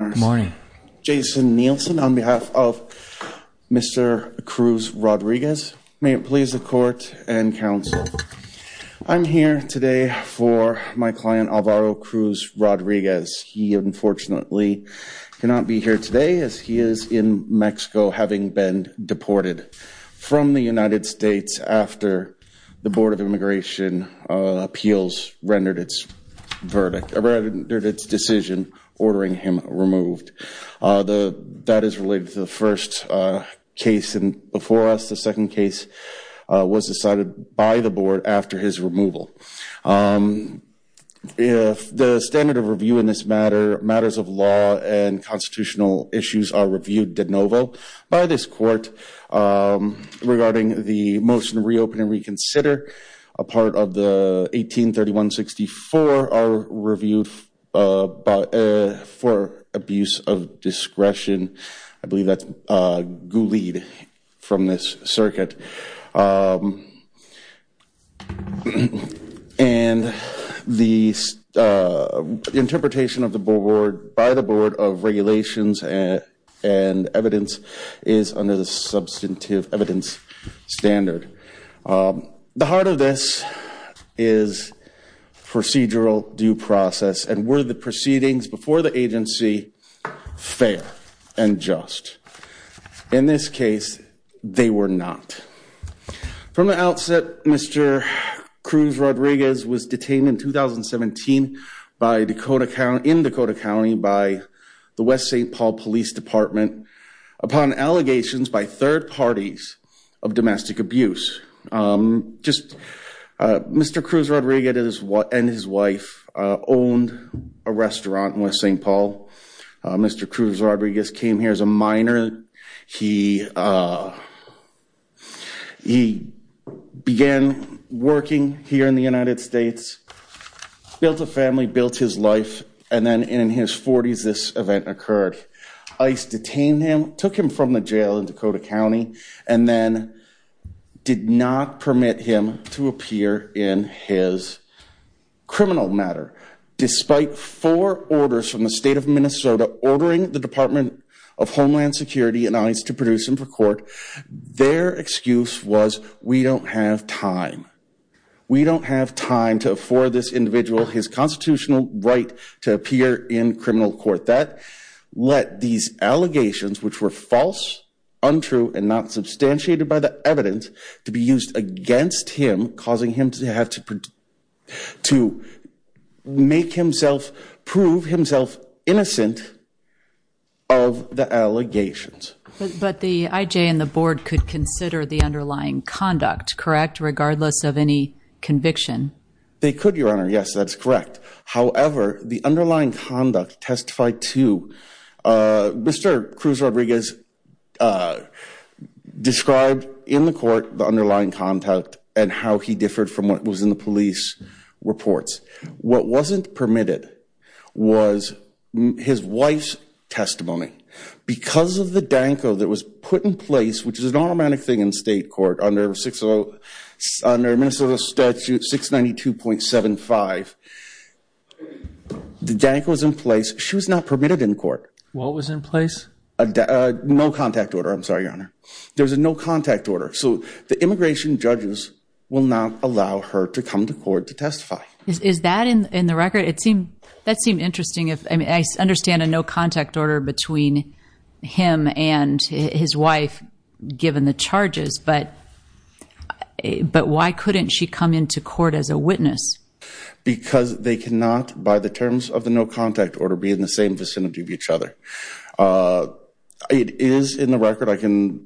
Good morning. Jason Nielsen on behalf of Mr. Cruz Rodriguez. May it please the court and counsel. I'm here today for my client Alvaro Cruz Rodriguez. He unfortunately cannot be here today as he is in Mexico having been deported from the United States after the case was removed. That is related to the first case before us. The second case was decided by the board after his removal. If the standard of review in this matter, matters of law and constitutional issues are reviewed de novo by this court regarding the motion reopen and reconsider a part of the 1831-64 are reviewed for abuse of discretion. I believe that's ghoulied from this circuit. And the interpretation of the board by the board of The heart of this is procedural due process and were the proceedings before the agency fair and just. In this case, they were not. From the outset, Mr. Cruz Rodriguez was detained in 2017 by Dakota County in Dakota County by the West St. Paul Police Department upon allegations by third parties of domestic abuse. Just Mr. Cruz Rodriguez and his wife owned a restaurant in West St. Paul. Mr. Cruz Rodriguez came here as a minor. He began working here in the United States, built a family, built his life. And then in his 40s, this event occurred. ICE detained him, took him from the jail in Dakota County and then did not permit him to appear in his criminal matter. Despite four orders from the state of Minnesota ordering the Department of Homeland Security and ICE to produce him for court, their excuse was we don't have time. We don't have time to afford this individual his constitutional right to appear in criminal court that let these allegations, which were false, untrue and not substantiated by the evidence to be used against him, causing him to have to to make himself prove himself innocent of the allegations. But the IJ and the board could consider the underlying conduct correct, regardless of any conviction. They could, Your Honor. Yes, that's correct. However, the underlying conduct testified to Mr. Cruz Rodriguez described in the court the underlying contact and how he differed from what was in the police reports. What wasn't permitted was his wife's testimony. Because of the Danko that was put in place, which is an thing in state court under Minnesota Statute 692.75, the Danko was in place. She was not permitted in court. What was in place? A no contact order. I'm sorry, Your Honor. There's a no contact order. So the immigration judges will not allow her to come to court to testify. Is that in the record? That seemed interesting. I understand a no contact order between him and his wife, given the charges, but why couldn't she come into court as a witness? Because they cannot, by the terms of the no contact order, be in the same vicinity of each other. It is in the record. I mean,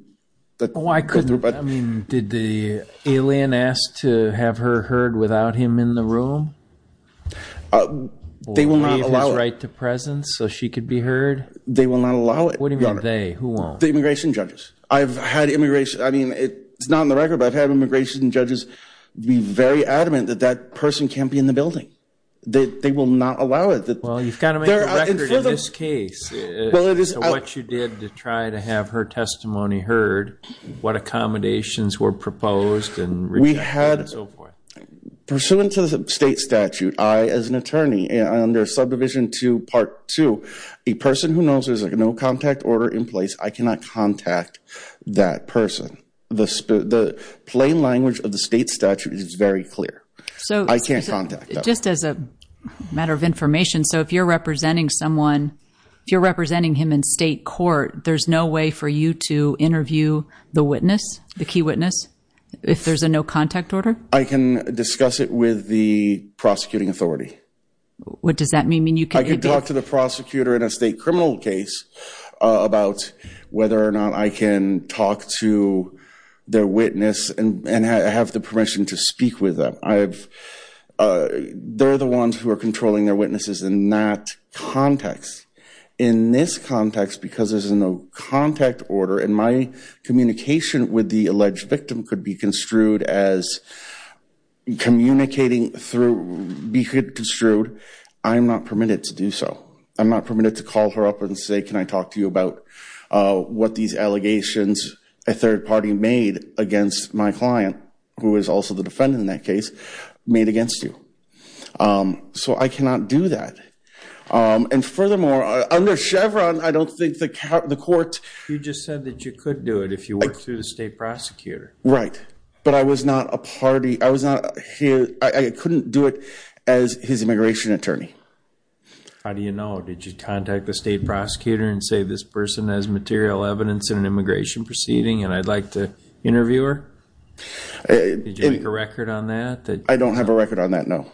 did the alien ask to have her heard without him in the room? They will not allow it. Leave his right to presence so she could be heard? They will not allow it, Your Honor. What do you mean, they? Who won't? The immigration judges. I've had immigration, I mean, it's not in the record, but I've had immigration judges be very adamant that that person can't be in the building. They will not allow it. Well, you've got to make a record in this case of what you did to try to have her We had, pursuant to the state statute, I, as an attorney, under Subdivision 2, Part 2, a person who knows there's a no contact order in place, I cannot contact that person. The plain language of the state statute is very clear. I can't contact them. Just as a matter of information, so if you're representing someone, if you're representing him in state court, there's no way for you to interview the witness, the key witness, if there's a no contact order. I can discuss it with the prosecuting authority. What does that mean? I could talk to the prosecutor in a state criminal case about whether or not I can talk to their witness and have the permission to speak with them. They're the ones who are controlling their witnesses in that context. In this context, because there's a no contact order and my communication with the alleged victim could be construed as communicating through, be construed, I'm not permitted to do so. I'm not permitted to call her up and say, can I talk to you about what these allegations, a third party made against my client, who is also the defendant in that case, made against you. So I cannot do that. And furthermore, under Chevron, I don't think the court... You just said that you could do it if you worked through the state prosecutor. Right, but I was not a party, I was not, I couldn't do it as his immigration attorney. How do you know? Did you contact the state prosecutor and say, this person has material evidence in an immigration proceeding and I'd like to interview her? Did you make a record on that? I don't have a record on that, no.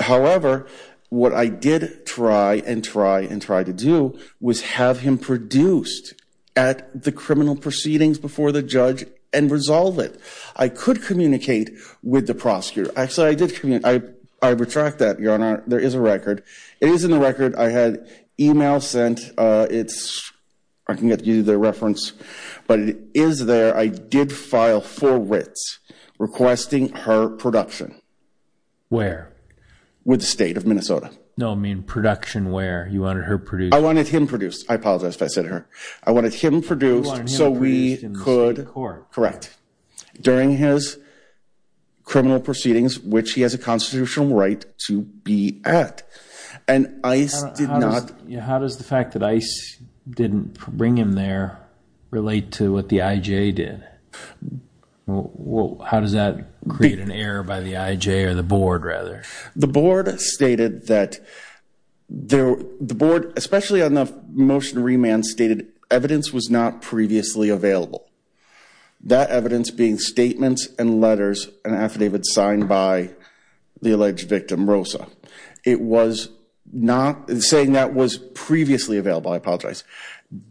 However, what I did try and try and try to do was have him produced at the criminal proceedings before the judge and resolve it. I could communicate with the prosecutor. Actually, I did communicate, I retract that, your honor, there is a record. It is in the record. I had email sent. It's, I can get you the reference, but it is there. I did file for writs requesting her production. Where? With the state of Minnesota. No, I mean, production where? You wanted her produced? I wanted him produced. I apologize if I said her. I wanted him produced so we could... You wanted him produced in the state court. It's a constitutional right to be at the criminal proceedings, which he has a constitutional right to be at and ICE did not... How does the fact that ICE didn't bring him there relate to what the IJ did? How does that create an error by the IJ or the board rather? The board stated that the board, especially on the motion remand stated evidence was not previously available. That evidence being statements and letters and affidavits signed by the alleged victim Rosa. It was not saying that was previously available, I apologize.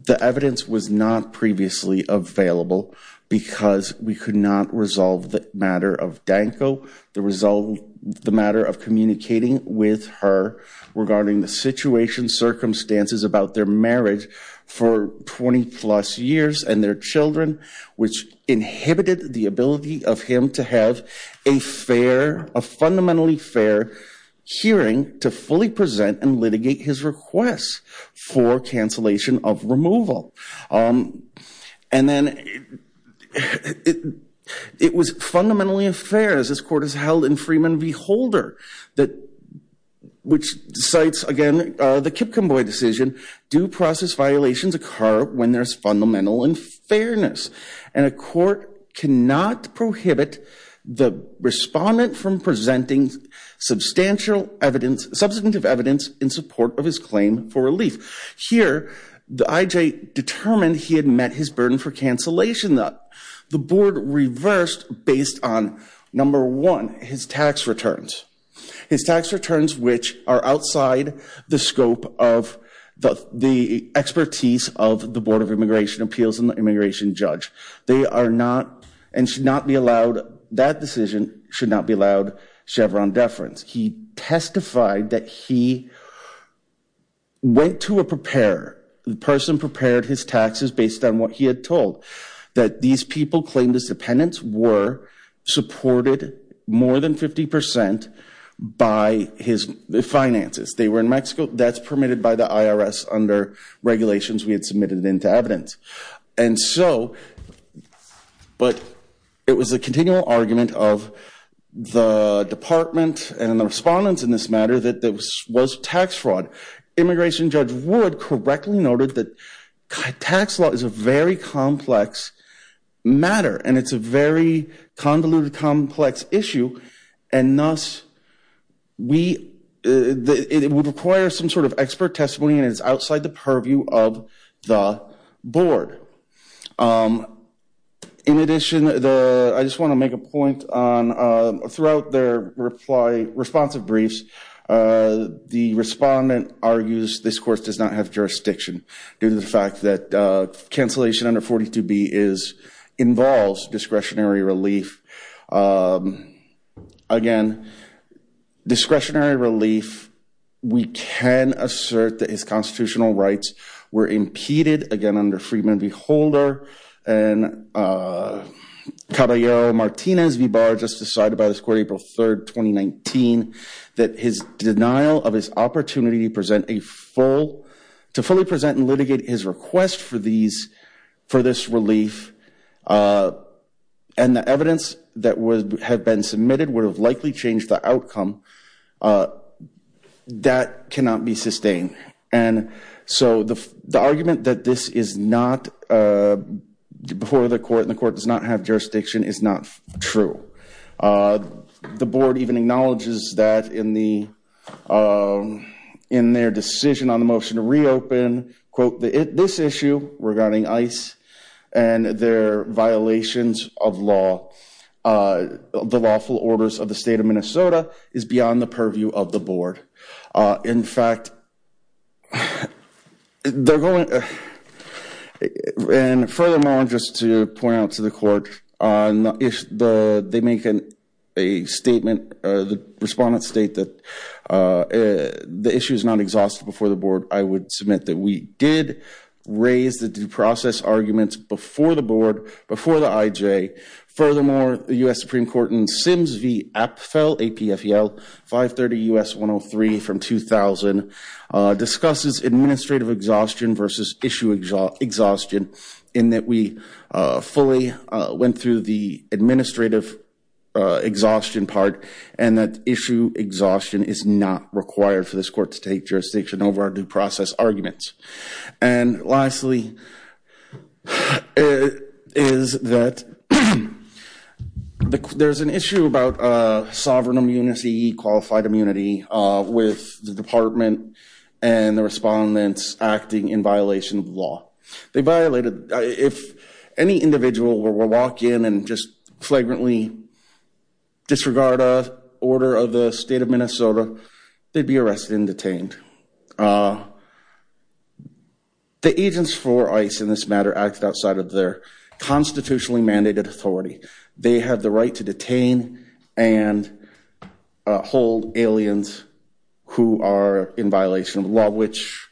The evidence was not previously available because we could not resolve the matter of Danko, the matter of communicating with her regarding the situation circumstances about their marriage for 20 plus years and their children, which inhibited the ability of him to have a fair, a fundamentally fair hearing to fully present and litigate his requests for cancellation of removal. And then it was fundamentally unfair as this court has held in Freeman v. Holder, which cites again the Kipcomboy decision, due process violations occur when there's fundamental unfairness and a court cannot prohibit the respondent from presenting substantial evidence, substantive evidence in support of his claim for relief. Here the IJ determined he had met his burden for cancellation that the board reversed based on number one, his tax returns. His tax returns, which are outside the scope of the the expertise of the Board of Immigration Appeals and the immigration judge. They are not and should not be allowed, that decision should not be allowed Chevron deference. He testified that he went to a preparer. The person prepared his taxes based on what he had told. That these people claimed as dependents were supported more than 50 percent by his finances. They were in Mexico. That's permitted by the IRS under regulations we had submitted into evidence. And so, but it was a continual argument of the department and the respondents in this matter that this was tax fraud. Immigration judge Wood correctly noted that tax law is a very complex matter and it's a very convoluted complex issue and thus we it would require some sort of expert testimony and it's outside the purview of the board. In addition, the I just want to make a point on throughout their reply responsive briefs. The respondent argues this course does not have jurisdiction due to the fact that cancellation under 42b is involves discretionary relief. Again, discretionary relief we can assert that his constitutional rights were impeded again under Friedman v. Holder and Caballero-Martinez v. Barr just decided by this court April 3rd 2019 that his denial of his opportunity to present a full to fully present and litigate his request for these for this relief and the evidence that would have been submitted would have likely changed the outcome. That cannot be sustained and so the argument that this is not before the court and the court does not have jurisdiction is not true. The board even acknowledges that in the in their decision on the motion to reopen quote this issue regarding ICE and their violations of law the lawful orders of the state of Minnesota is beyond the purview of the board. In fact, they're going and furthermore just to point out to the court on if the they make a statement the respondents state that the issue is not exhausted before the board I would submit that we did raise the due process arguments before the board before the IJ furthermore the U.S. Supreme Court in Sims v. Apfel APFL 530 U.S. 103 from 2000 discusses administrative exhaustion versus issue exhaustion in that we fully went through the administrative exhaustion part and that issue exhaustion is not required for this court to take jurisdiction over our due process arguments. And lastly is that there's an issue about sovereign immunity, qualified immunity with the department and the respondents acting in violation of law. They violated if any individual were to walk in and just flagrantly disregard a order of the state of Minnesota they'd be the agents for ICE in this matter acted outside of their constitutionally mandated authority. They have the right to detain and hold aliens who are in violation of the law which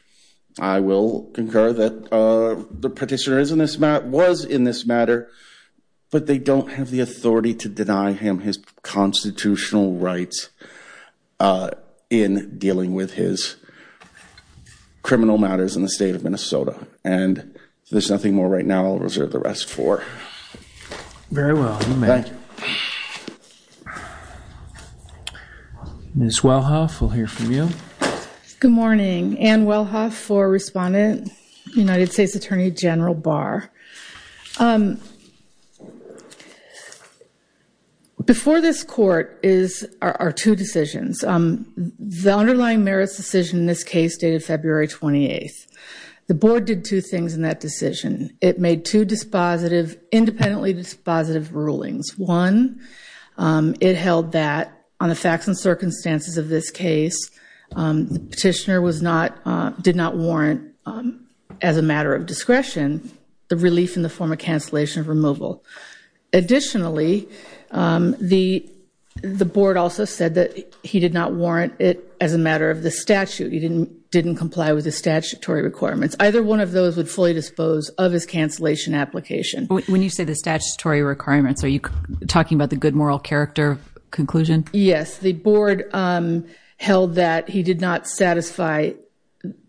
I will concur that the petitioner is in this matter was in this matter but they don't have authority to deny him his constitutional rights in dealing with his criminal matters in the state of Minnesota and there's nothing more right now I'll reserve the rest for. Very well you may. Ms. Wellhoff we'll hear from you. Good morning Ann Wellhoff for respondent United States Attorney General Barr. Before this court is our two decisions. The underlying merits decision in this case dated February 28th. The board did two things in that decision. It made two dispositive independently dispositive rulings. One it held that on the facts and circumstances of this case the petitioner did not warrant as a matter of discretion the relief in the form of cancellation of removal. Additionally the board also said that he did not warrant it as a matter of the statute. He didn't comply with the statutory requirements. Either one of those would fully dispose of his cancellation application. When you say the statutory requirements are you talking about the good moral character conclusion? Yes the board held that he did not satisfy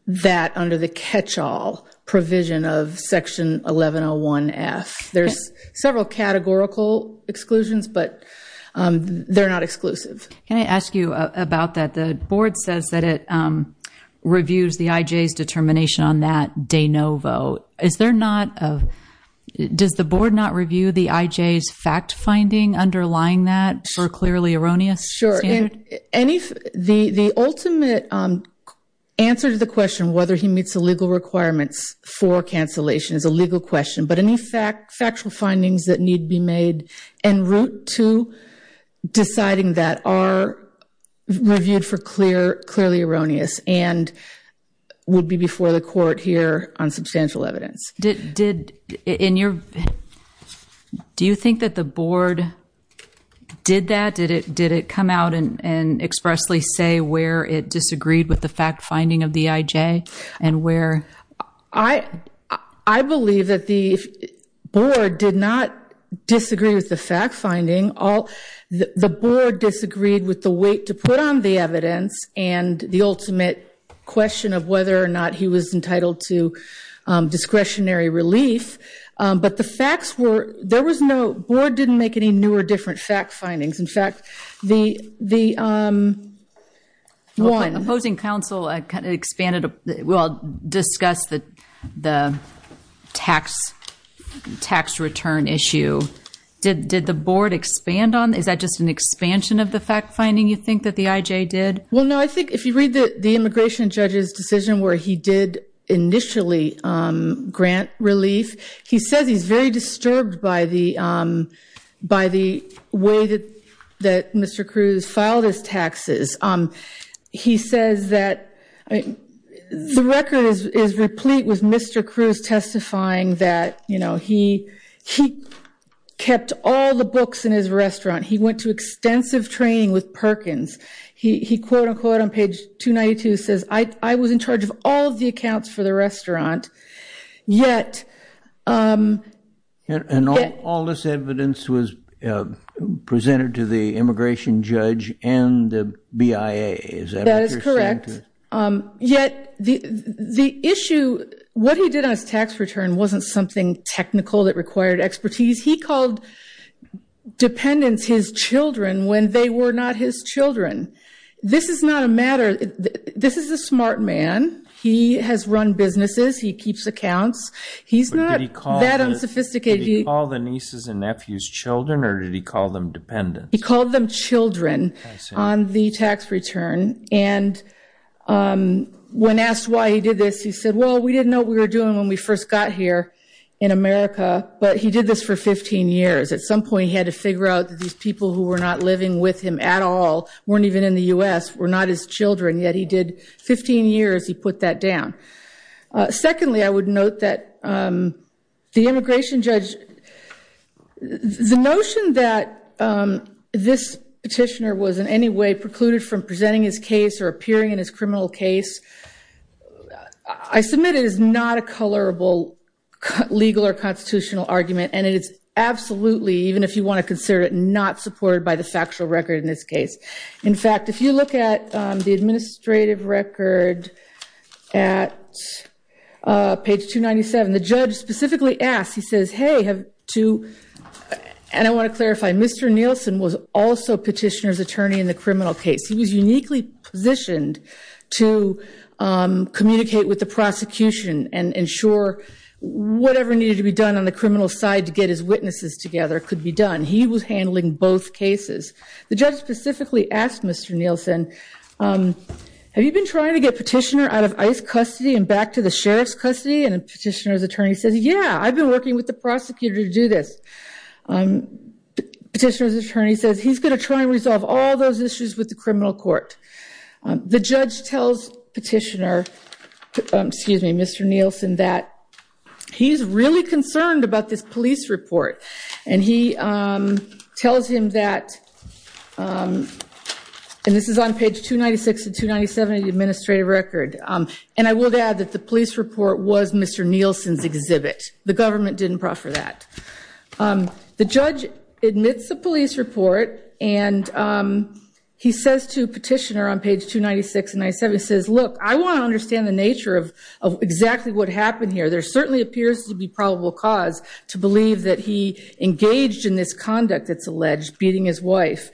that under the catch-all provision of section 1101 F. There's several categorical exclusions but they're not exclusive. Can I ask you about that the board says that it reviews the IJ's finding underlying that for clearly erroneous? Sure and if the the ultimate answer to the question whether he meets the legal requirements for cancellation is a legal question but any fact factual findings that need be made en route to deciding that are reviewed for clear clearly erroneous and would be before the court here on substantial evidence. Did in your opinion do you think that the board did that? Did it did it come out and expressly say where it disagreed with the fact finding of the IJ and where? I believe that the board did not disagree with the fact finding all the board disagreed with the weight to put on the evidence and the ultimate question of whether or not he was entitled to discretionary relief but the facts were there was no board didn't make any new or different fact findings in fact the the opposing council expanded we'll discuss the the tax tax return issue did did the board expand on is that just an expansion of the fact finding you think that the IJ did? Well no I think if you read the immigration judge's decision where he did initially grant relief he says he's very disturbed by the by the way that that Mr. Cruz filed his taxes he says that I mean the record is is replete with Mr. Cruz testifying that you know he he kept all the books in his says I I was in charge of all the accounts for the restaurant yet. And all this evidence was presented to the immigration judge and the BIA. That is correct yet the the issue what he did on his tax return wasn't something technical that required expertise he called dependents his children this is not a matter this is a smart man he has run businesses he keeps accounts he's not that unsophisticated. Did he call the nieces and nephews children or did he call them dependents? He called them children on the tax return and when asked why he did this he said well we didn't know what we were doing when we first got here in America but he did this for 15 years at some weren't even in the U.S. were not his children yet he did 15 years he put that down. Secondly I would note that the immigration judge the notion that this petitioner was in any way precluded from presenting his case or appearing in his criminal case I submit it is not a colorable legal or constitutional argument and it is absolutely even if you want to consider it supported by the factual record in this case. In fact if you look at the administrative record at page 297 the judge specifically asked he says hey have to and I want to clarify Mr. Nielsen was also petitioner's attorney in the criminal case he was uniquely positioned to communicate with the prosecution and ensure whatever needed to be done on the criminal side to get his witnesses together could be done he was handling both cases the judge specifically asked Mr. Nielsen have you been trying to get petitioner out of ICE custody and back to the sheriff's custody and the petitioner's attorney says yeah I've been working with the prosecutor to do this petitioner's attorney says he's going to try and resolve all those issues with the criminal court the judge tells petitioner excuse me Mr. Nielsen that he's really concerned about this police report and he tells him that and this is on page 296 and 297 of the administrative record and I will add that the police report was Mr. Nielsen's exhibit the government didn't proffer that the judge admits the police report and he says to petitioner on page 296 and 97 says look I want to understand the nature of exactly what happened here there certainly appears to be to believe that he engaged in this conduct that's alleged beating his wife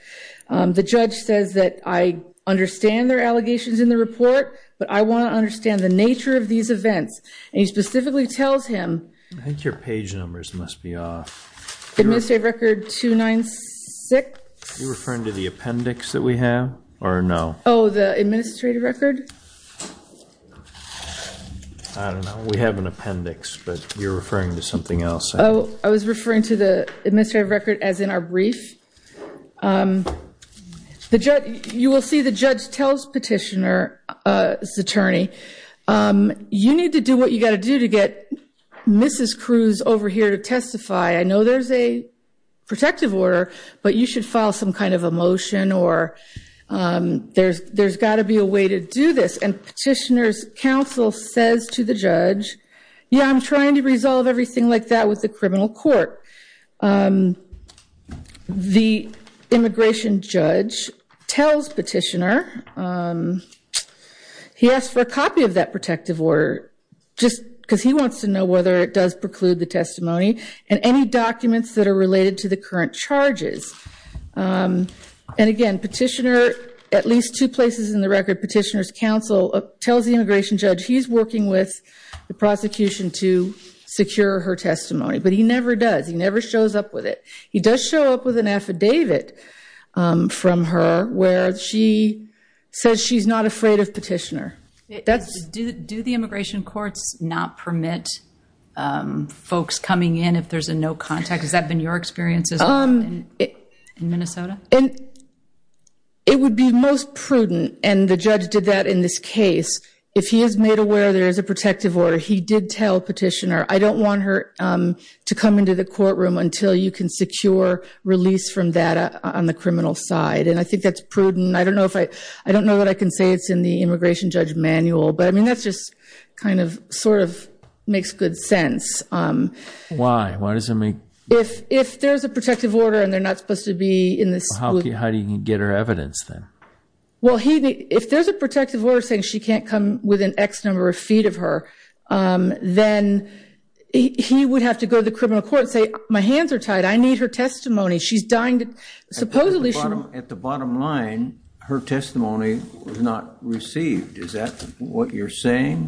the judge says that I understand their allegations in the report but I want to understand the nature of these events and he specifically tells him I think your page numbers must be off administrative record 296 you're referring to the appendix that we have or no oh the administrative record I don't know we have an appendix but you're referring to something else oh I was referring to the administrative record as in our brief the judge you will see the judge tells petitioner attorney you need to do what you got to do to get mrs. Cruz over here to testify I know there's a protective order but you should file some kind of a motion or there's there's got to be a way to do this and petitioner's counsel says to the judge yeah I'm trying to resolve everything like that with the criminal court the immigration judge tells petitioner he asked for a copy of that protective order just because he wants to know whether it does preclude the testimony and any documents that are related to the current charges and again petitioner at least two places in the record petitioner's counsel tells the immigration judge he's working with the prosecution to secure her testimony but he never does he never shows up with it he does show up with an affidavit from her where she says she's not afraid of petitioner that's do the immigration courts not permit folks coming in if there's a no contact has that been your experiences in minnesota and it would be most prudent and the judge did that in this case if he is made aware there is a protective order he did tell petitioner I don't want her to come into the courtroom until you can secure release from that on the criminal side and I think that's prudent I don't know if I I don't know that I can say it's in the immigration judge manual but I mean that's just kind of sort of makes good sense why why does it make if if there's a protective order and they're how do you get her evidence then well he if there's a protective order saying she can't come with an x number of feet of her then he would have to go to the criminal court and say my hands are tied I need her testimony she's dying to supposedly at the bottom line her testimony was not received is that what you're saying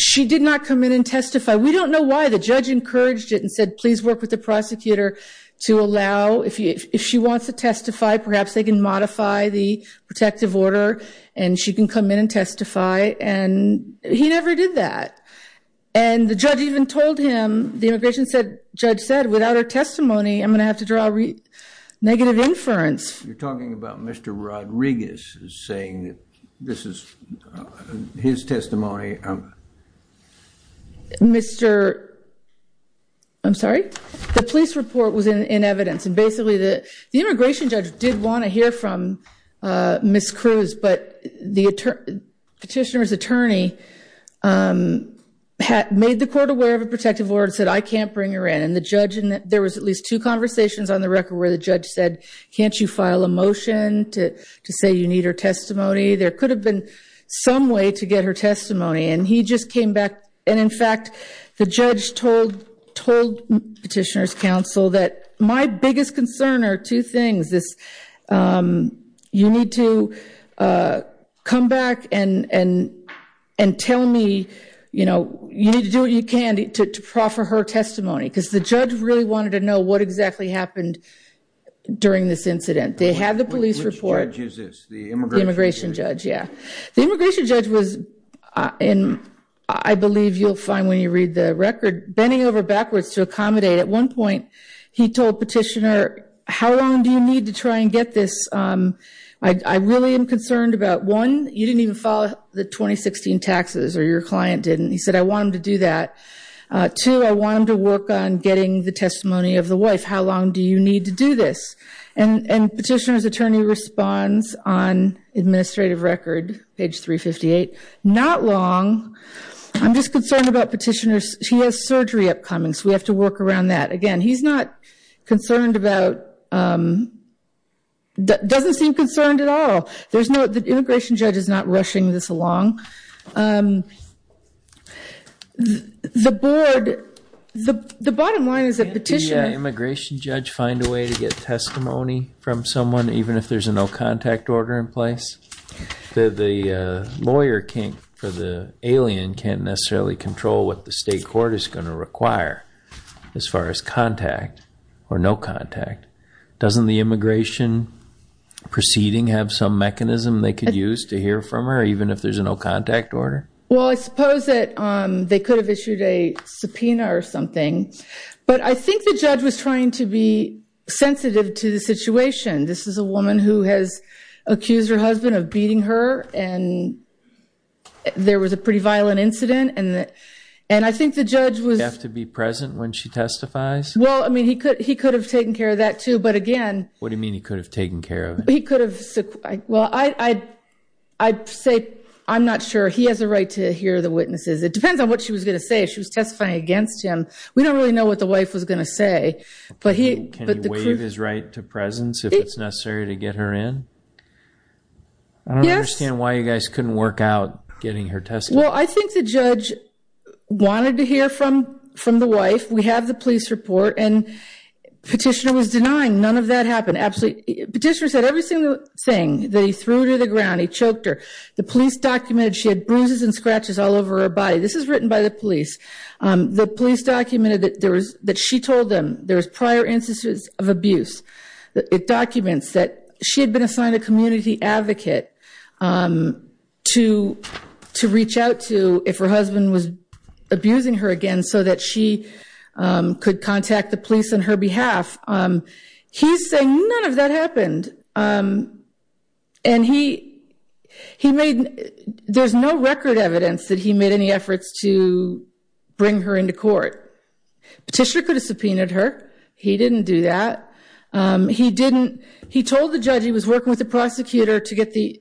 she did not come in and testify we don't know why the judge encouraged it said please work with the prosecutor to allow if you if she wants to testify perhaps they can modify the protective order and she can come in and testify and he never did that and the judge even told him the immigration said judge said without her testimony I'm going to have to draw negative inference you're talking about Mr. Rodriguez is saying that this is his testimony um Mr. I'm sorry the police report was in in evidence and basically the the immigration judge did want to hear from uh Ms. Cruz but the petitioner's attorney um had made the court aware of a protective order said I can't bring her in and the judge and there was at least two conversations on the record where the judge said can't you file a motion to to say you need her and he just came back and in fact the judge told told petitioner's counsel that my biggest concern are two things this um you need to uh come back and and and tell me you know you need to do what you can to proffer her testimony because the judge really wanted to know what exactly happened during this incident they had the police report judges the immigration judge yeah the immigration judge was in I believe you'll find when you read the record bending over backwards to accommodate at one point he told petitioner how long do you need to try and get this um I I really am concerned about one you didn't even follow the 2016 taxes or your client didn't he said I want him to do that uh two I want him to work on getting the testimony of the wife how long do you need to do this and and petitioner's attorney responds on administrative record page 358 not long I'm just concerned about petitioners he has surgery upcoming so we have to work around that again he's not concerned about um doesn't seem concerned at all there's no the immigration judge is not rushing this along um the board the the bottom line is that petition immigration judge find a way to get testimony from someone even if there's a no contact order in place the the uh lawyer can't for the alien can't necessarily control what the state court is going to require as far as contact or no contact doesn't the immigration proceeding have some mechanism they could use to hear from her even if there's no contact order well I suppose that um they could have issued a subpoena or something but I think the judge was trying to be sensitive to the situation this is a woman who has accused her husband of beating her and there was a pretty violent incident and and I think the judge was have to be present when she testifies well I mean he could he could have taken care of that too but again what do you mean he could have taken care of it he could have well I'd I'd say I'm not sure he has a right to hear the witnesses it depends on what she was going to say if she was testifying against him we don't really know what the wife was going to say but he but the wave is right to presence if it's necessary to get her in I don't understand why you guys couldn't work out getting her test well I think the judge wanted to hear from from the wife we have the police report and petitioner was denying none of that happened absolutely petitioner said every single thing that he threw to the ground he choked her the police documented she had bruises and scratches all over her body this is written by the police um the police documented that there was that she told them there was prior instances of abuse it documents that she had been assigned a community advocate um to to reach out to if her husband was abusing her again so that she um could contact the police on her behalf um he's saying none of that happened um and he he made there's no record evidence that he made any efforts to bring her into court petitioner could have subpoenaed her he didn't do that um he didn't he told the judge he was working with the prosecutor to get the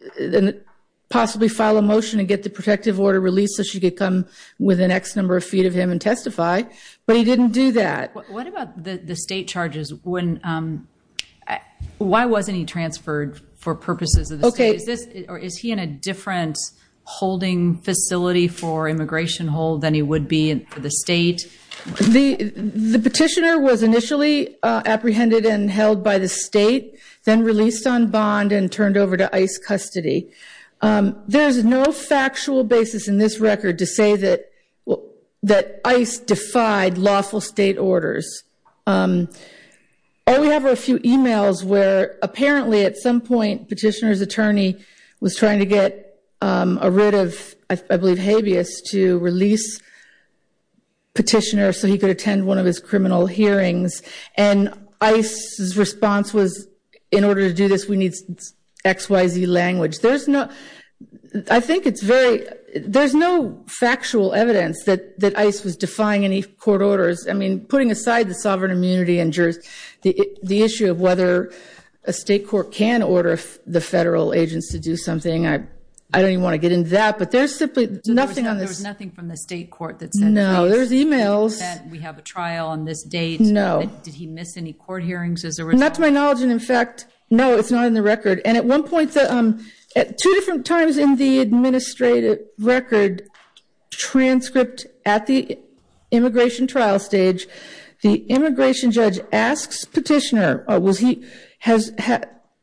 possibly file a motion and get the protective order released so she could come with an x number of feet of him and testify but he didn't do that what about the the state charges when um why wasn't he transferred for purposes of the state is this or is he in a different holding facility for immigration hold than he would be for the state the the petitioner was initially uh apprehended and held by the state then released on bond and turned over to ice custody um there's no factual basis in this record to say that well that ice defied lawful state orders um oh we have a few emails where apparently at some point petitioner's attorney was trying to get um a writ of i believe habeas to release petitioner so he could attend one of his criminal hearings and ice's response was in order to do this we need xyz language there's no i think it's very there's no factual evidence that that ice was defying any court orders i mean putting aside the sovereign immunity and jurors the the issue of whether a state court can order the federal agents to do something i i don't even want to get into that but there's simply nothing there's nothing from the state court that's no there's emails we have a trial on this date no did he miss any court hearings as a result not to my knowledge and in fact no it's not in the record and at one point that um at two different times in the administrative record transcript at the immigration trial stage the immigration judge asks petitioner or was he has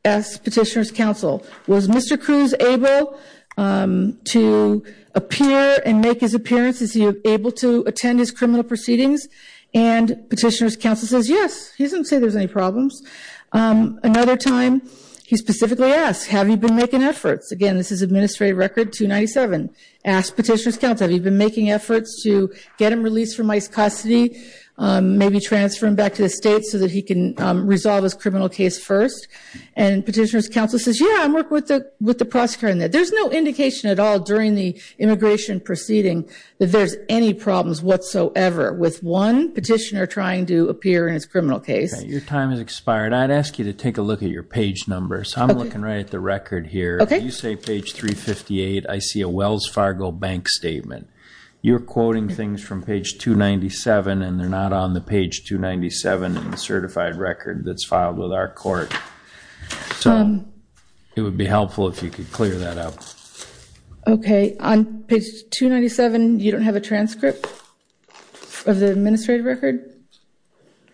asked petitioner's counsel was mr cruz able um to appear and make his appearance is he able to attend his criminal proceedings and petitioner's counsel says yes he doesn't say there's any problems um another time he specifically asked have you been making efforts again this is administrative record 297 asked petitioner's counsel have you been making efforts to get him released from ice custody um maybe transfer him back to the state so that he can resolve his criminal case first and petitioner's counsel says yeah i'm working with the with the prosecutor in that there's no indication at all during the immigration proceeding that there's any problems whatsoever with one petitioner trying to appear in his criminal case your time has expired i'd ask you to take a look at your page number so i'm looking right at the record here okay you say page 358 i see a wells fargo bank statement you're quoting things from page 297 and they're not on the page 297 and the certified record that's filed with our court so it would be helpful if you could clear that up okay on page 297 you don't have a transcript of the administrative record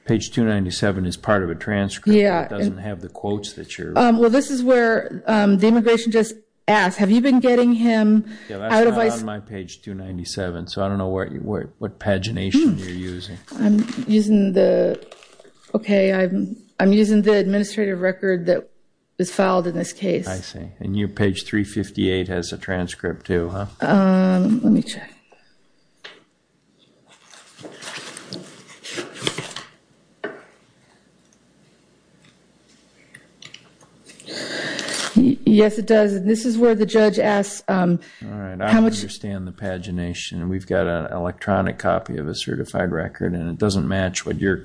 page 297 is part of a transcript yeah it doesn't have the quotes that you're um well this is where um the immigration just asked have you been getting him out of my page 297 so i don't know where you were what pagination you're using i'm using the okay i'm using the administrative record that was filed in this case i see and you page 358 has a transcript too huh um let me check yes it does this is where the judge asks um all right i understand the pagination and we've got an electronic copy of a certified record and it doesn't match what you're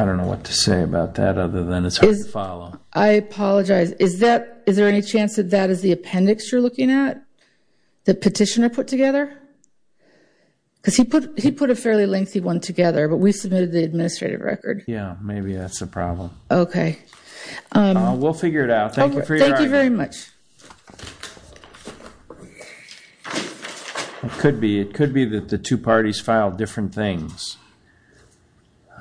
i don't know what to say about that other than it's hard to follow i apologize is that is there any chance that that is the appendix you're looking at the petitioner put together because he put he put a fairly lengthy one together but we submitted the administrative record yeah maybe that's a problem okay um we'll figure it out thank you very much okay it could be it could be that the two parties filed different things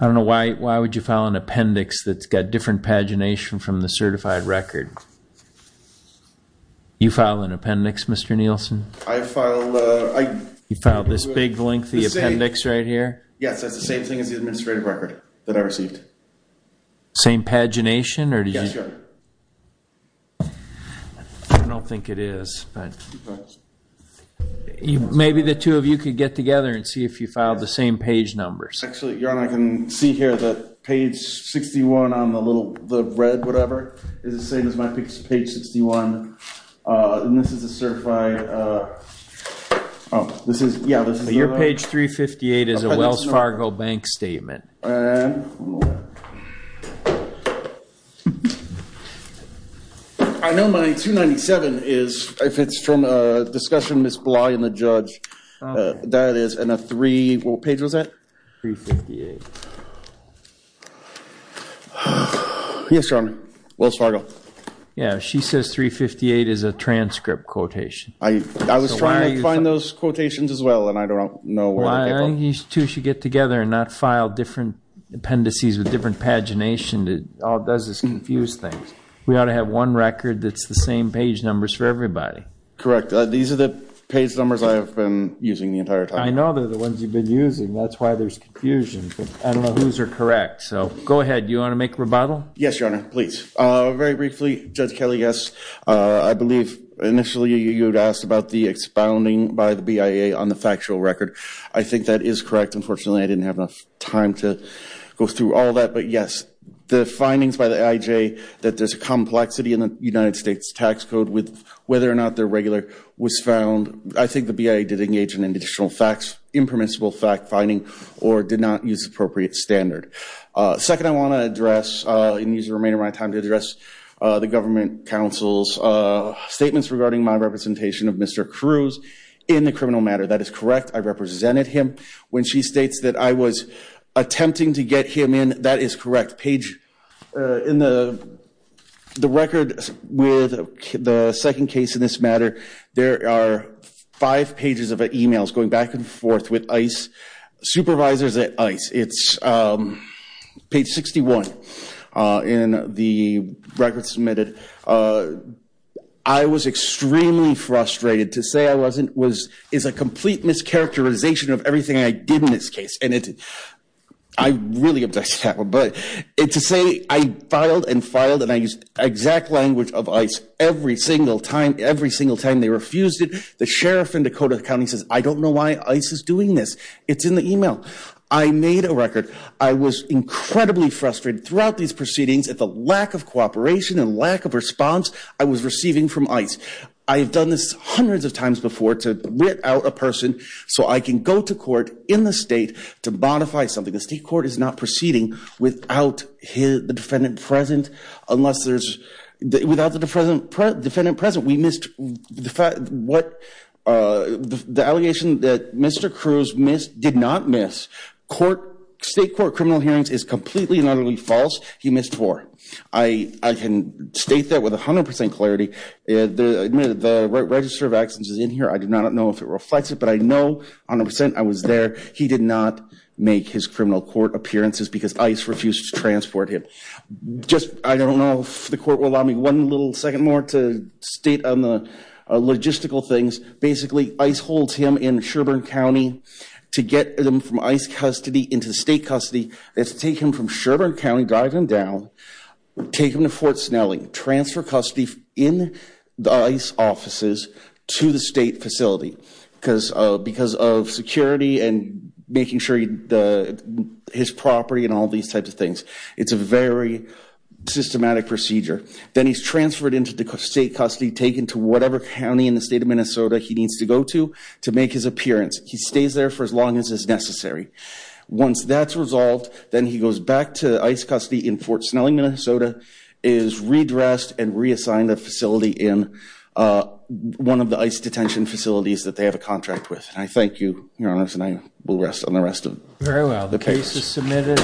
i don't know why why would you file an appendix that's got different pagination from the certified record you file an appendix mr nielsen i file uh you filed this big lengthy appendix right here yes that's the same thing as the administrative record that i received same pagination or did you i don't think it is but maybe the two of you could get together and see if you filed the same page numbers actually your i can see here that page 61 on the little the red whatever is the same as my page 61 uh and this is a certified uh oh this is yeah this is your page 358 is a wells fargo bank statement i know my 297 is if it's from a discussion miss bligh and the judge that is and a three what page was that 358 yes your honor wells fargo yeah she says 358 is a transcript quotation i i was trying to find those two should get together and not file different appendices with different pagination it all does is confuse things we ought to have one record that's the same page numbers for everybody correct these are the page numbers i have been using the entire time i know they're the ones you've been using that's why there's confusion i don't know who's are correct so go ahead you want to make a rebuttal yes your honor please uh very briefly judge kelly yes uh i believe initially you asked about the expounding by the bia on the factual record i think that is correct unfortunately i didn't have enough time to go through all that but yes the findings by the ij that there's a complexity in the united states tax code with whether or not their regular was found i think the bia did engage in additional facts impermissible fact finding or did not use appropriate standard uh second i want to address uh and use the remainder of my time to address uh the government council's uh statements regarding my representation of mr cruz in the criminal matter that is correct i represented him when she states that i was attempting to get him in that is correct page in the the record with the second case in this matter there are five pages of emails going back and forth with ice supervisors at ice it's um page 61 uh in the record submitted uh i was extremely frustrated to say i wasn't was is a complete mischaracterization of everything i did in this case and it i really objected that one but it to say i filed and filed and i used exact language of ice every single time every single time they refused it the sheriff in dakota county says i don't know this it's in the email i made a record i was incredibly frustrated throughout these proceedings at the lack of cooperation and lack of response i was receiving from ice i have done this hundreds of times before to writ out a person so i can go to court in the state to modify something the state court is not proceeding without his the defendant present unless there's without the defendant present we missed the fact what uh the allegation that mr cruz missed did not miss court state court criminal hearings is completely and utterly false he missed four i i can state that with 100 clarity the the register of accidents is in here i do not know if it reflects it but i know on a percent i was there he did not make his criminal court appearances because ice refused to state on the logistical things basically ice holds him in sherbourne county to get them from ice custody into state custody let's take him from sherbourne county drive him down take him to fort snelling transfer custody in the ice offices to the state facility because uh because of security and making sure the his property and all these types of things it's a very systematic procedure then he's transferred into the state custody taken to whatever county in the state of minnesota he needs to go to to make his appearance he stays there for as long as is necessary once that's resolved then he goes back to ice custody in fort snelling minnesota is redressed and reassigned a facility in uh one of the ice detention facilities that they have a contract with i thank you your honors and i will rest on the rest of very well the case is submitted